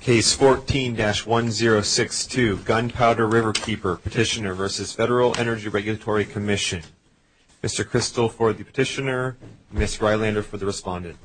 Case 14-1062 Gunpowder Riverkeeper Petitioner v. Federal Energy Regulatory Commission Mr. Kristol for the petitioner, Ms. Rylander for the respondent. Mr. Kristol for the petitioner, Ms. Rylander for the respondent.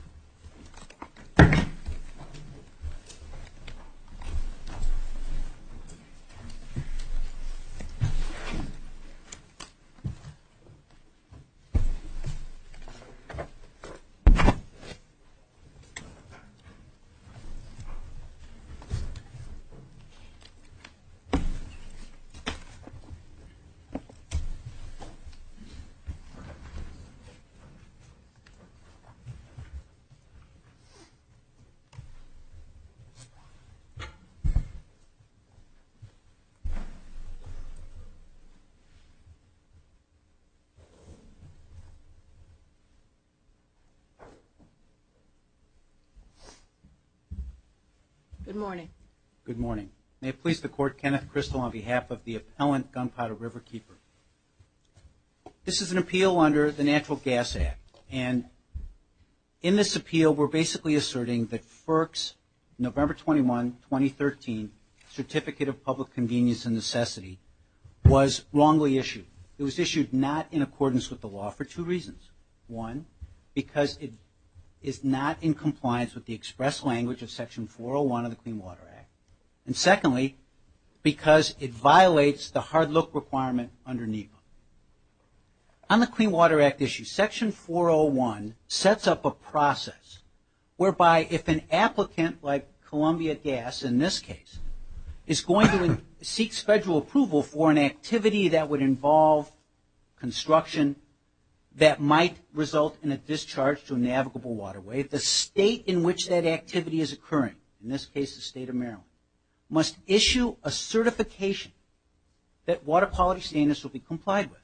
Good morning. Good morning. May it please the Court, Kenneth Kristol on behalf of the appellant Gunpowder Riverkeeper. This is an appeal under the Natural Gas Act and in this appeal we're basically asserting that FERC's November 21, 2013 Certificate of Public Convenience and Necessity was wrongly issued. It was issued not in accordance with the law for two reasons. One, because it is not in compliance with the express language of Section 401 of the Clean Water Act. And secondly, because it violates the hard look requirement under NEPA. On the Clean Water Act issue, Section 401 sets up a process whereby if an applicant like Columbia Gas in this case is going to seek federal approval for an activity that would involve construction that might result in a discharge to a navigable waterway, the state in which that activity is occurring, in this case the state of Maryland, must issue a certification that water quality standards will be complied with.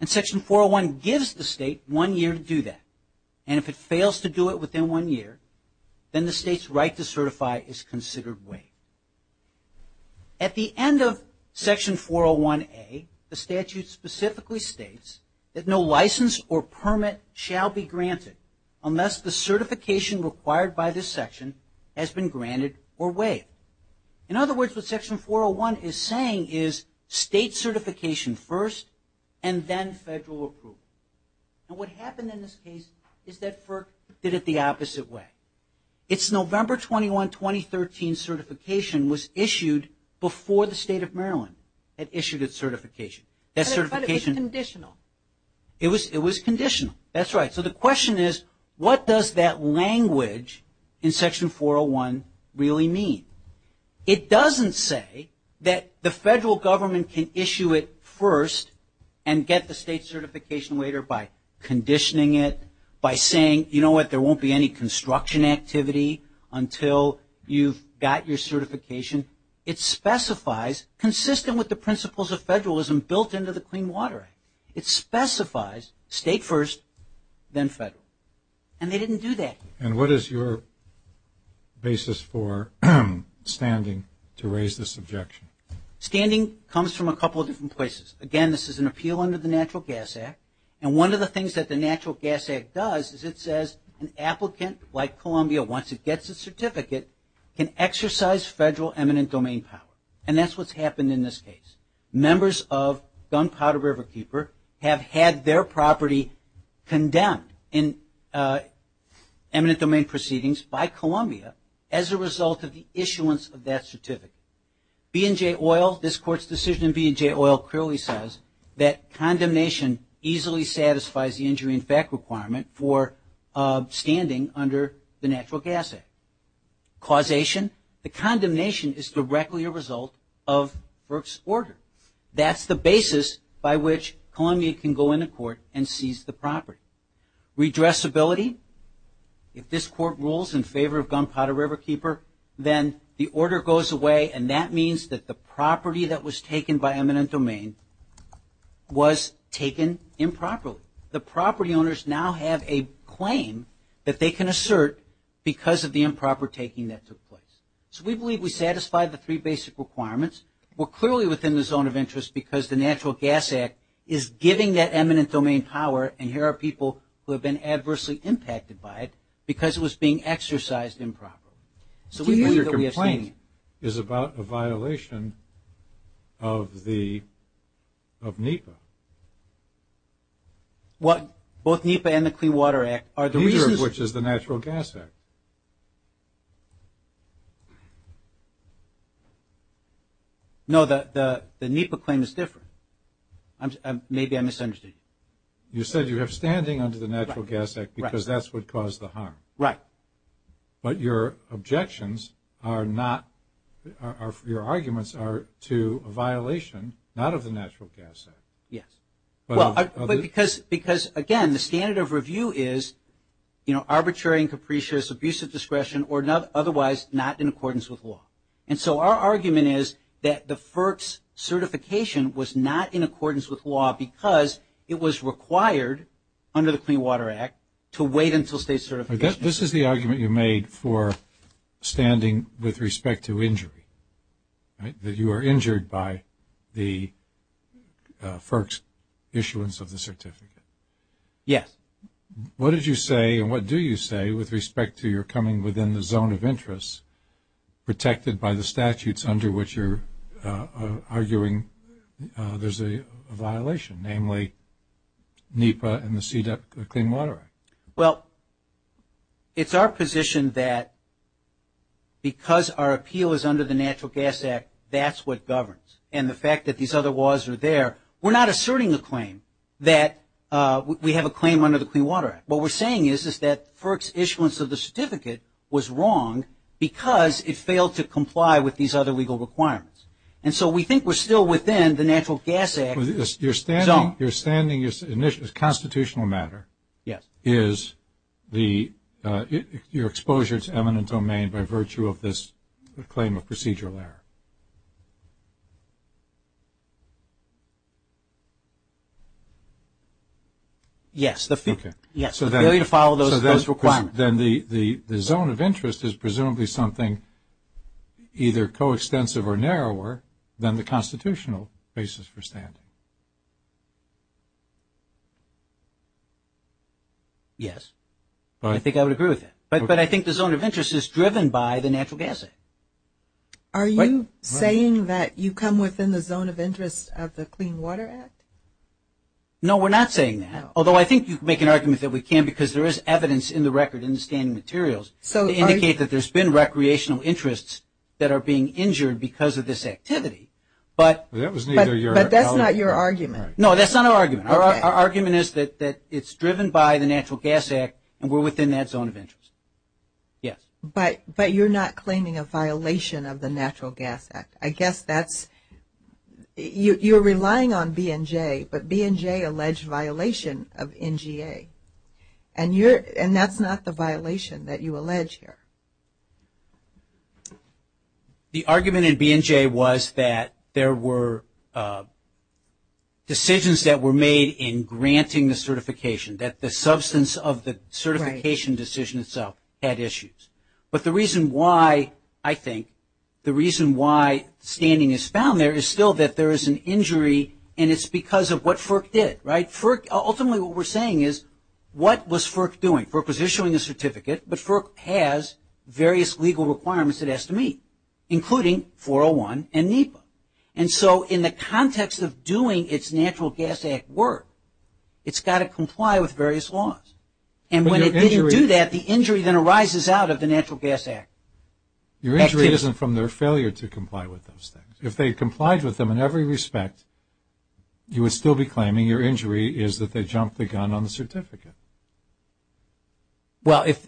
And Section 401 gives the state one year to do that. And if it fails to do it within one year, then the state's right to certify is considered waived. At the end of Section 401A, the statute specifically states that no license or permit shall be granted unless the certification required by this section has been granted or waived. In other words, what Section 401 is saying is state certification first and then federal approval. And what happened in this case is that FERC did it the opposite way. Its November 21, 2013 certification was issued before the state of Maryland had issued its certification. That certification... But it was conditional. It was conditional. That's right. So the question is, what does that language in Section 401 really mean? It doesn't say that the federal government can issue it first and get the state certification later by conditioning it, by saying, you know what, there won't be any construction activity until you've got your certification. It specifies, consistent with the principles of federalism built into the Clean Water Act, it specifies state first, then federal. And they didn't do that. And what is your basis for standing to raise this objection? Standing comes from a couple of different places. Again, this is an appeal under the Natural Gas Act. And one of the things that the Natural Gas Act does is it says an applicant like Columbia, once it gets a certificate, can exercise federal eminent domain power. And that's what's happened in this case. Members of Gunpowder Riverkeeper have had their property condemned in eminent domain proceedings by Columbia as a result of the issuance of that certificate. B&J Oil, this Court's decision in B&J Oil clearly says that condemnation easily satisfies the injury in fact requirement for standing under the Natural Gas Act. Causation, the condemnation is directly a result of Burke's order. That's the basis by which Columbia can go into court and seize the property. Redressability, if this Court rules in favor of Gunpowder Riverkeeper, then the order goes away and that means that the property that was taken by eminent domain was taken improperly. The property owners now have a claim that they can assert because of the improper taking that took place. So we believe we satisfy the three basic requirements. We're clearly within the zone of interest because the Natural Gas Act is giving that eminent domain power and here are people who have been adversely impacted by it because it was being exercised improperly. So your complaint is about a violation of the, of NEPA. What, both NEPA and the Clean Water Act are the reasons. The reason of which is the Natural Gas Act. No, the NEPA claim is different. Maybe I misunderstood you. You said you have standing under the Natural Gas Act because that's what caused the harm. Right. But your objections are not, your arguments are to a violation, not of the Natural Gas Act. Yes. But because, again, the standard of review is, you know, arbitrary and capricious, abusive discretion, or otherwise not in accordance with law. And so our argument is that the FERC's certification was not in accordance with law because it was required under the Clean Water Act to wait until state certification. This is the argument you made for standing with respect to injury, right, that you were injured by the FERC's issuance of the certificate. Yes. What did you say and what do you say with respect to your coming within the zone of interest protected by the statutes under which you're arguing there's a violation, namely NEPA and the CDEP Clean Water Act? Well, it's our position that because our appeal is under the Natural Gas Act, that's what governs. And the fact that these other laws are there, we're not asserting a claim that we have a claim under the Clean Water Act. What we're saying is that FERC's issuance of the certificate was wrong because it failed to comply with these other legal requirements. And so we think we're still within the Natural Gas Act zone. Your standing is constitutional matter. Yes. Is your exposure to eminent domain by virtue of this claim of procedural error? Yes, the failure to follow those requirements. So then the zone of interest is presumably something either coextensive or narrower than the constitutional basis for standing. Yes. I think I would agree with that. But I think the zone of interest is driven by the Natural Gas Act. Are you saying that you come within the zone of interest of the Clean Water Act? No, we're not saying that. Although I think you can make an argument that we can because there is evidence in the record in the standing materials to indicate that there's been recreational interests that are being injured because of this activity. But that's not your argument. No, that's not our argument. Our argument is that it's driven by the Natural Gas Act and we're within that zone of interest. Yes. But you're not claiming a violation of the Natural Gas Act. I guess that's you're relying on B&J, but B&J alleged violation of NGA. And that's not the violation that you allege here. The argument in B&J was that there were decisions that were made in granting the certification, that the substance of the certification decision itself had issues. But the reason why, I think, the reason why standing is found there is still that there is an injury and it's because of what FERC did, right? Ultimately what we're saying is what was FERC doing? FERC was issuing a certificate, but FERC has various legal requirements it has to meet, including 401 and NEPA. And so in the context of doing its Natural Gas Act work, it's got to comply with various laws. And when it didn't do that, the injury then arises out of the Natural Gas Act. Your injury isn't from their failure to comply with those things. If they complied with them in every respect, you would still be claiming your injury is that they jumped the gun on the certificate. Well, if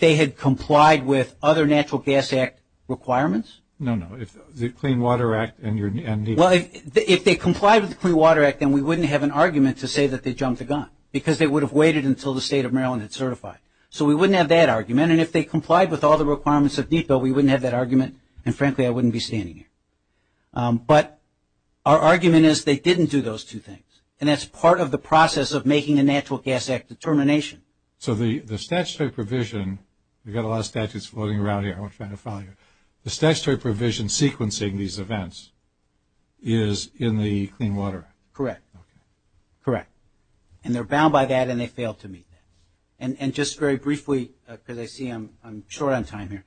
they had complied with other Natural Gas Act requirements? No, no. The Clean Water Act and NEPA. Well, if they complied with the Clean Water Act, then we wouldn't have an argument to say that they jumped the gun because they would have waited until the State of Maryland had certified. So we wouldn't have that argument. And if they complied with all the requirements of NEPA, we wouldn't have that argument. And frankly, I wouldn't be standing here. But our argument is they didn't do those two things. And that's part of the process of making a Natural Gas Act determination. So the statutory provision, we've got a lot of statutes floating around here, I won't try to follow you. The statutory provision sequencing these events is in the Clean Water Act? Correct. Okay. Correct. And they're bound by that and they failed to meet that. And just very briefly, because I see I'm short on time here,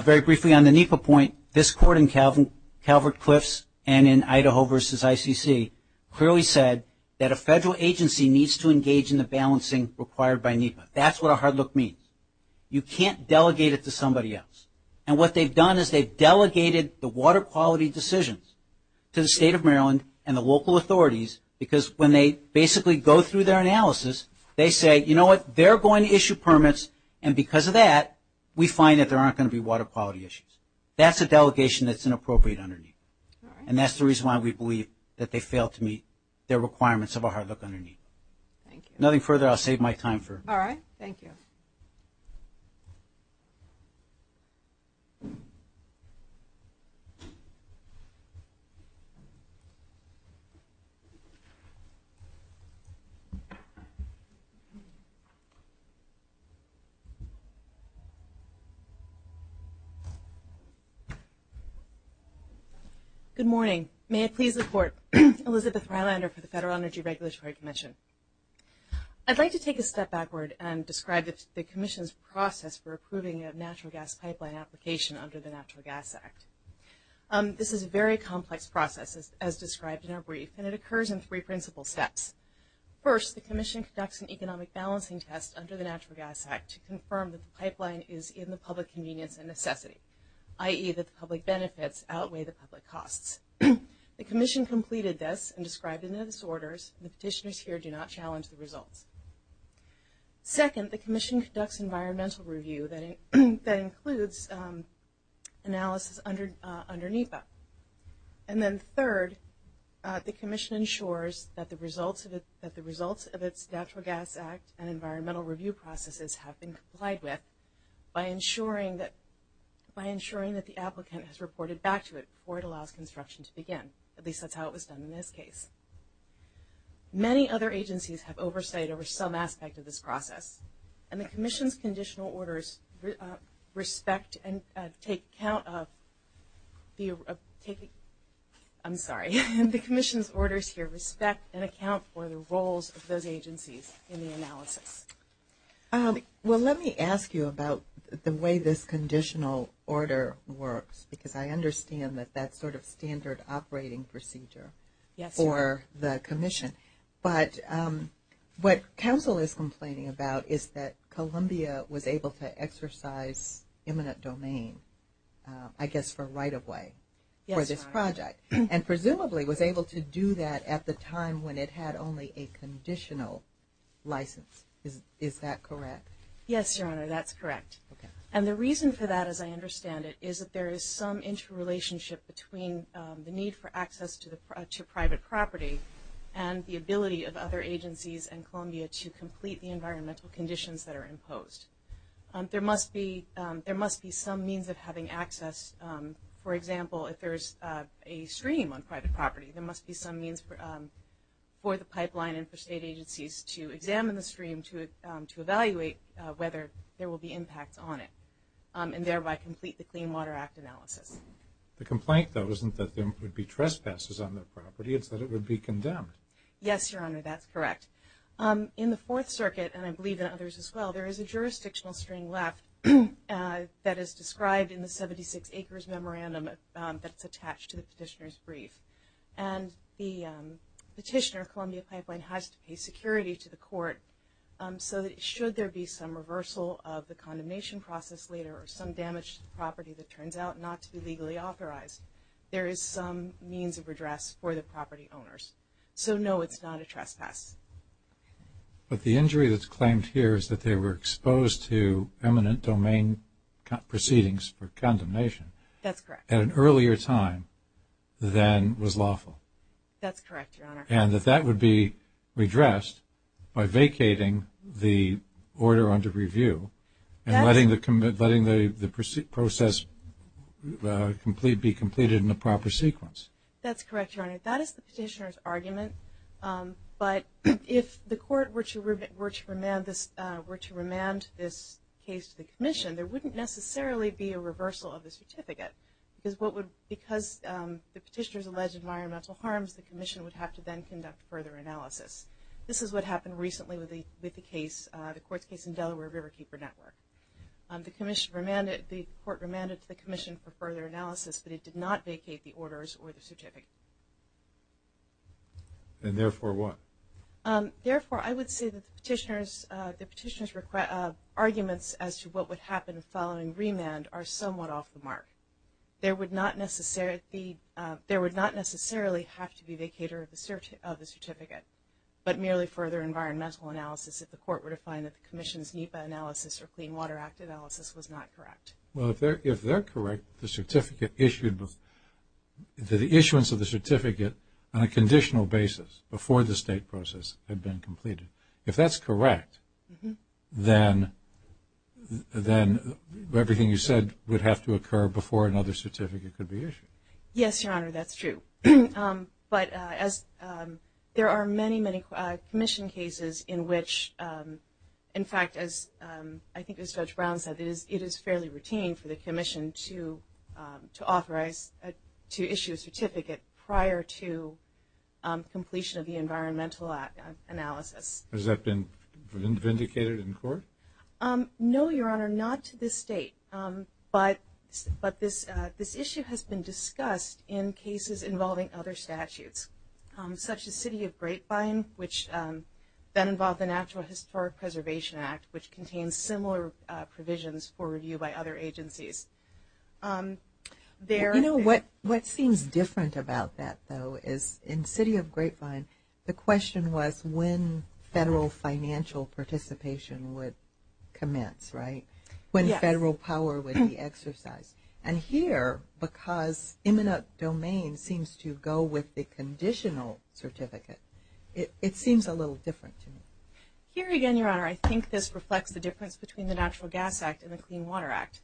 very briefly on the NEPA point, this court in Calvert-Cliffs and in Idaho versus ICC clearly said that a federal agency needs to engage in the balancing required by NEPA. That's what a hard look means. You can't delegate it to somebody else. And what they've done is they've delegated the water quality decisions to the State of Maryland and the local authorities because when they basically go through their analysis, they say, you know what, they're going to issue permits, and because of that we find that there aren't going to be water quality issues. That's a delegation that's inappropriate underneath. And that's the reason why we believe that they failed to meet their requirements of a hard look underneath. Thank you. Nothing further. I'll save my time for it. All right. Thank you. Good morning. May it please the Court. Elizabeth Rylander for the Federal Energy Regulatory Commission. I'd like to take a step backward and describe the Commission's process for approving a natural gas pipeline application under the Natural Gas Act. This is a very complex process, as described in our brief, and it occurs in three principal steps. First, the Commission conducts an economic balancing test under the Natural Gas Act to determine whether or not a pipeline application can be approved. This is to confirm that the pipeline is in the public convenience and necessity, i.e., that the public benefits outweigh the public costs. The Commission completed this and described it in its orders. The petitioners here do not challenge the results. Second, the Commission conducts environmental review that includes analysis underneath that. And then third, the Commission ensures that the results of its Natural Gas Act and environmental review processes have been complied with by ensuring that the applicant has reported back to it before it allows construction to begin. At least that's how it was done in this case. Many other agencies have oversight over some aspect of this process, and the Commission's conditional orders respect and take account of the roles of those agencies in the analysis. Well, let me ask you about the way this conditional order works, because I understand that that's sort of standard operating procedure for the Commission. But what Council is complaining about is that Columbia was able to exercise imminent domain, I guess, for right-of-way for this project, and presumably was able to do that at the time when it had only a conditional license. Is that correct? Yes, Your Honor, that's correct. And the reason for that, as I understand it, is that there is some interrelationship between the need for access to private property and the ability of other agencies and Columbia to complete the environmental conditions that are imposed. There must be some means of having access. For example, if there's a stream on private property, there must be some means for the pipeline and for state agencies to examine the stream to evaluate whether there will be impacts on it and thereby complete the Clean Water Act analysis. The complaint, though, isn't that there would be trespasses on the property. It's that it would be condemned. Yes, Your Honor, that's correct. In the Fourth Circuit, and I believe in others as well, there is a jurisdictional string left that is described in the 76 acres memorandum that's attached to the petitioner's brief. And the petitioner of Columbia Pipeline has to pay security to the court so that should there be some reversal of the condemnation process later or some damage to the property that turns out not to be legally authorized, there is some means of redress for the property owners. So, no, it's not a trespass. But the injury that's claimed here is that they were exposed to eminent domain proceedings for condemnation. That's correct. At an earlier time than was lawful. That's correct, Your Honor. And that that would be redressed by vacating the order under review and letting the process be completed in a proper sequence. That's correct, Your Honor. That is the petitioner's argument. But if the court were to remand this case to the commission, there wouldn't necessarily be a reversal of the certificate because the petitioner's alleged environmental harms, the commission would have to then conduct further analysis. This is what happened recently with the court's case in Delaware Riverkeeper Network. The court remanded to the commission for further analysis, but it did not vacate the orders or the certificate. And therefore what? Therefore, I would say that the petitioner's arguments as to what would happen following remand are somewhat off the mark. There would not necessarily have to be a vacater of the certificate, but merely further environmental analysis if the court were to find that the commission's NEPA analysis or Clean Water Act analysis was not correct. Well, if they're correct, the issuance of the certificate on a conditional basis before the state process had been completed. If that's correct, then everything you said would have to occur before another certificate could be issued. Yes, Your Honor, that's true. But there are many, many commission cases in which, in fact, as I think Judge Brown said, it is fairly routine for the commission to issue a certificate prior to completion of the environmental analysis. Has that been vindicated in court? No, Your Honor, not to this date. But this issue has been discussed in cases involving other statutes, such as City of Grapevine, which then involved the Natural Historic Preservation Act, which contains similar provisions for review by other agencies. You know, what seems different about that, though, is in City of Grapevine, the question was when federal financial participation would commence, right? Yes. When federal power would be exercised. And here, because imminent domain seems to go with the conditional certificate, it seems a little different to me. Here again, Your Honor, I think this reflects the difference between the Natural Gas Act and the Clean Water Act.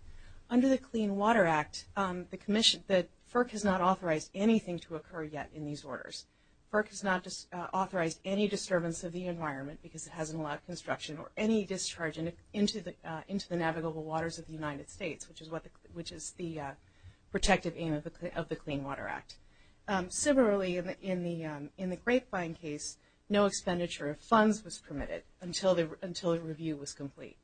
Under the Clean Water Act, the commission, FERC has not authorized anything to occur yet in these orders. FERC has not authorized any disturbance of the environment because it hasn't allowed construction or any discharge into the navigable waters of the United States, which is the protective aim of the Clean Water Act. Similarly, in the Grapevine case, no expenditure of funds was permitted until a review was complete.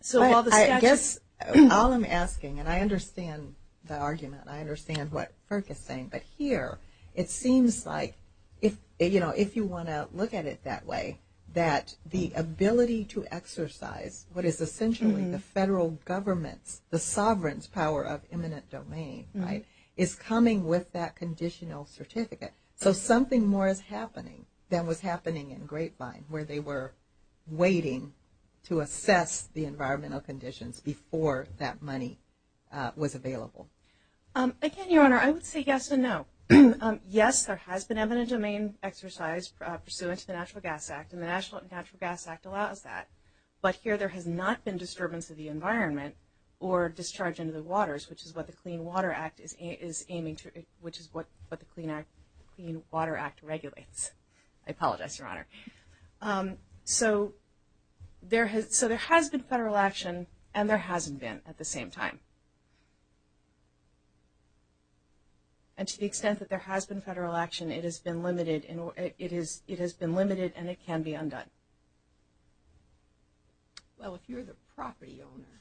So all the statutes. I guess all I'm asking, and I understand the argument, I understand what FERC is saying, but here it seems like if you want to look at it that way, that the ability to exercise what is essentially the federal government's, the sovereign's power of imminent domain, right, is coming with that conditional certificate. So something more is happening than was happening in Grapevine, where they were waiting to assess the environmental conditions before that money was available. Again, Your Honor, I would say yes and no. Yes, there has been imminent domain exercise pursuant to the Natural Gas Act, and the Natural Gas Act allows that. But here there has not been disturbance of the environment or discharge into the waters, which is what the Clean Water Act is aiming to, which is what the Clean Water Act regulates. I apologize, Your Honor. So there has been federal action, and there hasn't been at the same time. And to the extent that there has been federal action, it has been limited, and it can be undone. Well, if you're the property owner,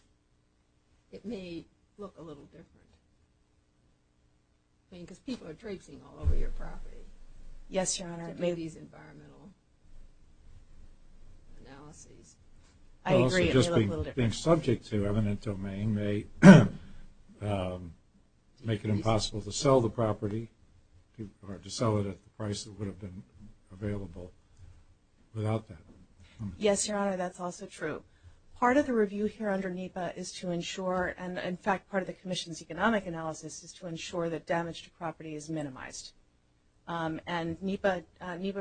it may look a little different. I mean, because people are traipsing all over your property. Yes, Your Honor. To do these environmental analyses. I agree, it may look a little different. Also, just being subject to imminent domain may make it impossible to sell the property or to sell it at the price that would have been available without that. Yes, Your Honor, that's also true. Part of the review here under NEPA is to ensure, and, in fact, part of the Commission's economic analysis is to ensure that damage to property is minimized. And NEPA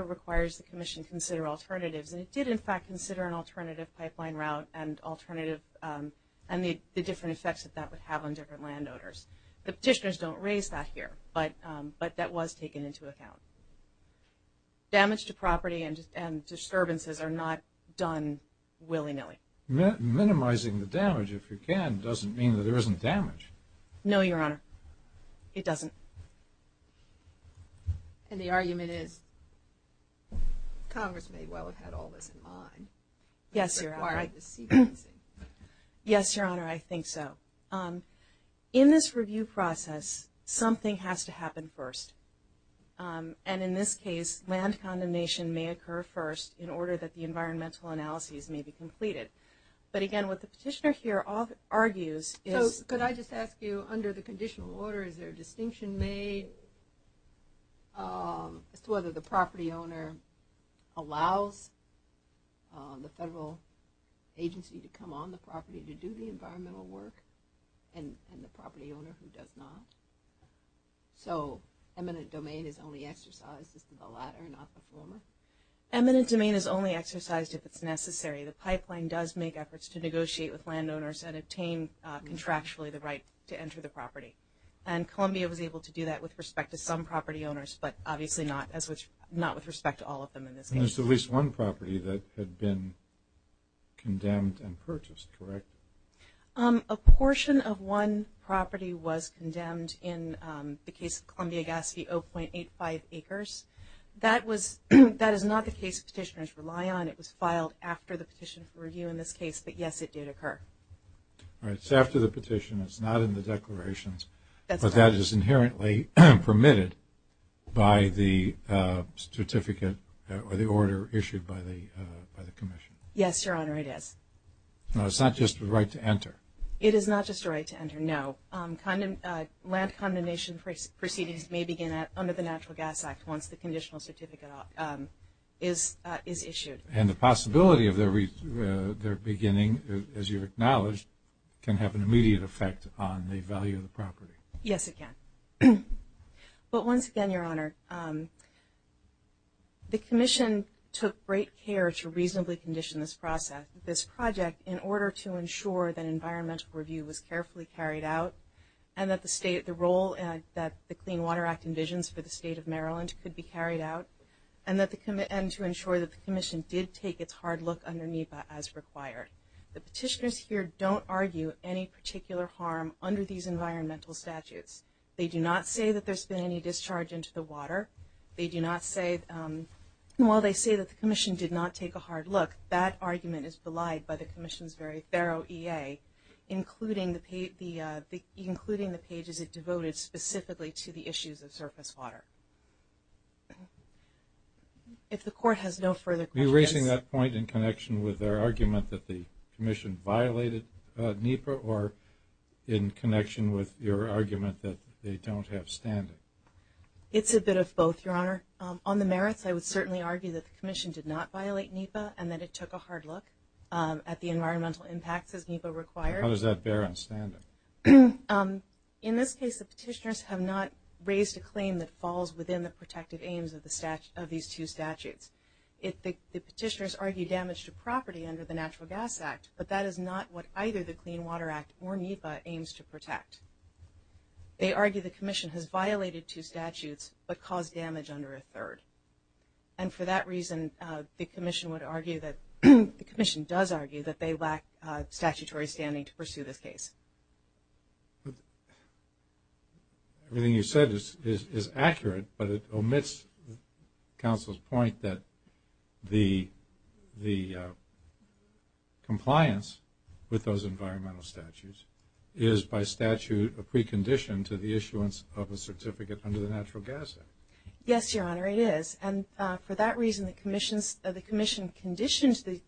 requires the Commission to consider alternatives, and it did, in fact, consider an alternative pipeline route and the different effects that that would have on different landowners. The petitioners don't raise that here, but that was taken into account. Damage to property and disturbances are not done willy-nilly. Minimizing the damage, if you can, doesn't mean that there isn't damage. No, Your Honor. It doesn't. And the argument is Congress may well have had all this in mind. Yes, Your Honor. Yes, Your Honor, I think so. In this review process, something has to happen first. And in this case, land condemnation may occur first in order that the environmental analyses may be completed. But, again, what the petitioner here argues is – So could I just ask you, under the conditional order, is there a distinction made as to whether the property owner allows the federal agency to come on the property to do the environmental work and the property owner who does not? So eminent domain is only exercised as to the latter and not the former? Eminent domain is only exercised if it's necessary. The pipeline does make efforts to negotiate with landowners and obtain contractually the right to enter the property. And Columbia was able to do that with respect to some property owners, but obviously not with respect to all of them in this case. There's at least one property that had been condemned and purchased, correct? A portion of one property was condemned in the case of Columbia-Gatsby, 0.85 acres. That is not the case petitioners rely on. It was filed after the petition for review in this case, but, yes, it did occur. It's after the petition. It's not in the declarations. But that is inherently permitted by the certificate or the order issued by the commission? Yes, Your Honor, it is. It's not just a right to enter? It is not just a right to enter, no. Land condemnation proceedings may begin under the Natural Gas Act once the conditional certificate is issued. And the possibility of their beginning, as you've acknowledged, can have an immediate effect on the value of the property. Yes, it can. But once again, Your Honor, the commission took great care to reasonably condition this process, this project, in order to ensure that environmental review was carefully carried out and that the role that the Clean Water Act envisions for the State of Maryland could be carried out and to ensure that the commission did take its hard look under NEPA as required. The petitioners here don't argue any particular harm under these environmental statutes. They do not say that there's been any discharge into the water. They do not say, while they say that the commission did not take a hard look, that argument is belied by the commission's very thorough EA, including the pages it devoted specifically to the issues of surface water. If the Court has no further questions. Are you raising that point in connection with their argument that the commission violated NEPA or in connection with your argument that they don't have standing? It's a bit of both, Your Honor. On the merits, I would certainly argue that the commission did not violate NEPA and that it took a hard look at the environmental impacts as NEPA required. How does that bear on standing? In this case, the petitioners have not raised a claim that falls within the protective aims of these two statutes. The petitioners argue damage to property under the Natural Gas Act, but that is not what either the Clean Water Act or NEPA aims to protect. They argue the commission has violated two statutes but caused damage under a third. And for that reason, the commission does argue that they lack statutory standing to pursue this case. Everything you said is accurate, but it omits counsel's point that the compliance with those environmental statutes is by statute a precondition to the issuance of a certificate under the Natural Gas Act. Yes, Your Honor, it is. And for that reason, the commission conditions the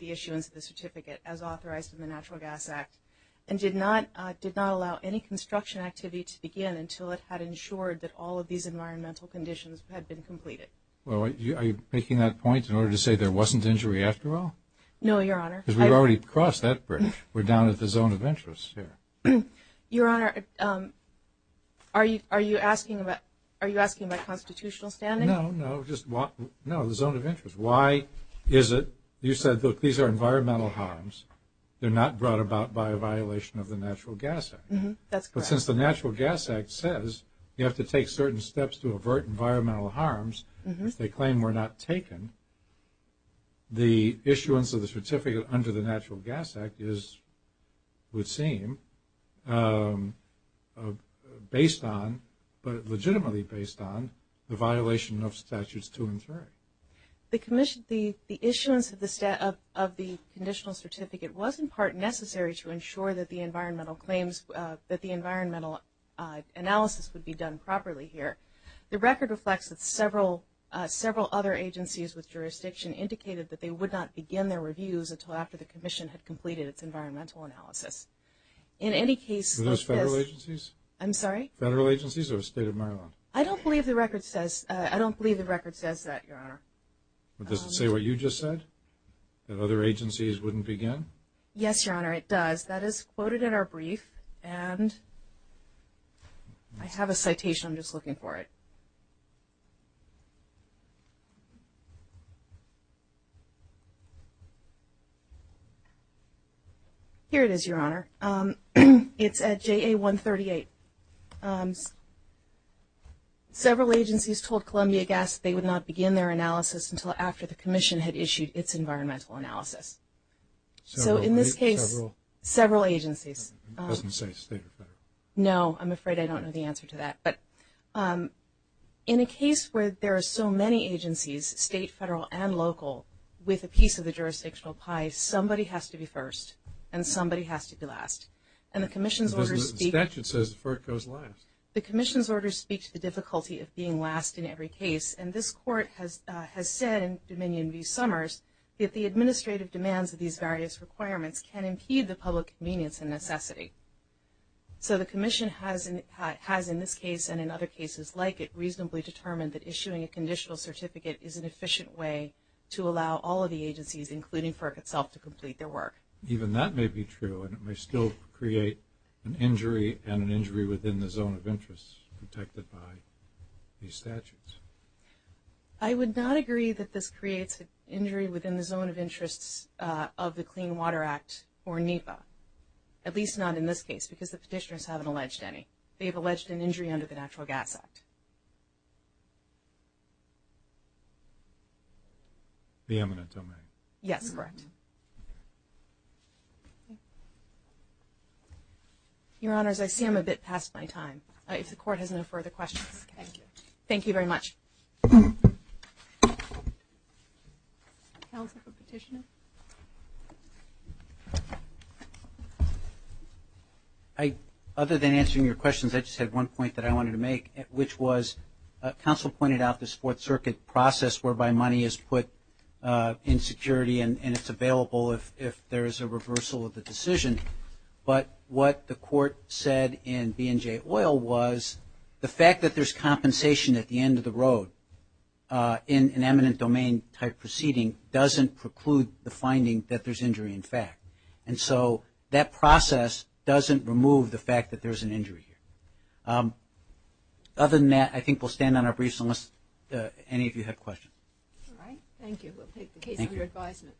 issuance of the certificate as authorized in the Natural Gas Act and did not allow any construction activity to begin until it had ensured that all of these environmental conditions had been completed. Are you making that point in order to say there wasn't injury after all? No, Your Honor. Because we've already crossed that bridge. We're down at the zone of interest here. Your Honor, are you asking about constitutional standing? No, no. No, the zone of interest. Why is it you said, look, these are environmental harms. They're not brought about by a violation of the Natural Gas Act. That's correct. But since the Natural Gas Act says you have to take certain steps to avert environmental harms if they claim we're not taken, the issuance of the certificate under the Natural Gas Act would seem based on, but legitimately based on, the violation of Statutes 2 and 3. The commission, the issuance of the conditional certificate was, in part, necessary to ensure that the environmental claims, that the environmental analysis would be done properly here. The record reflects that several other agencies with jurisdiction indicated that they would not begin their reviews until after the commission had completed its environmental analysis. In any case, Are those federal agencies? I'm sorry? Federal agencies or the State of Maryland? I don't believe the record says that, Your Honor. Does it say what you just said, that other agencies wouldn't begin? Yes, Your Honor, it does. That is quoted in our brief, and I have a citation. I'm just looking for it. Here it is, Your Honor. It's at JA 138. Several agencies told Columbia Gas they would not begin their analysis until after the commission had issued its environmental analysis. So in this case, several agencies. It doesn't say state or federal. No, I'm afraid I don't know the answer to that. In a case where there are so many agencies, state, federal, and local, with a piece of the jurisdictional pie, somebody has to be first and somebody has to be last. The statute says FERC goes last. The commission's order speaks to the difficulty of being last in every case, and this Court has said in Dominion v. Summers that the administrative demands of these various requirements can impede the public convenience and necessity. So the commission has, in this case and in other cases like it, reasonably determined that issuing a conditional certificate is an efficient way to allow all of the agencies, including FERC itself, to complete their work. Even that may be true, and it may still create an injury and an injury within the zone of interest protected by these statutes. I would not agree that this creates an injury within the zone of interests of the Clean Water Act or NEPA, at least not in this case, because the petitioners haven't alleged any. They have alleged an injury under the Natural Gas Act. The eminent domain. Yes, correct. Your Honors, I see I'm a bit past my time. If the Court has no further questions. Thank you. Thank you very much. Counsel for petitioner. Other than answering your questions, I just had one point that I wanted to make, which was counsel pointed out this Fourth Circuit process whereby money is put in security and it's available if there is a reversal of the decision. But what the Court said in B&J Oil was the fact that there's compensation at the end of the road in an eminent domain type proceeding doesn't preclude the finding that there's injury in fact. And so that process doesn't remove the fact that there's an injury. Other than that, I think we'll stand on our briefs unless any of you have questions. All right. Thank you. We'll take the case under advisement.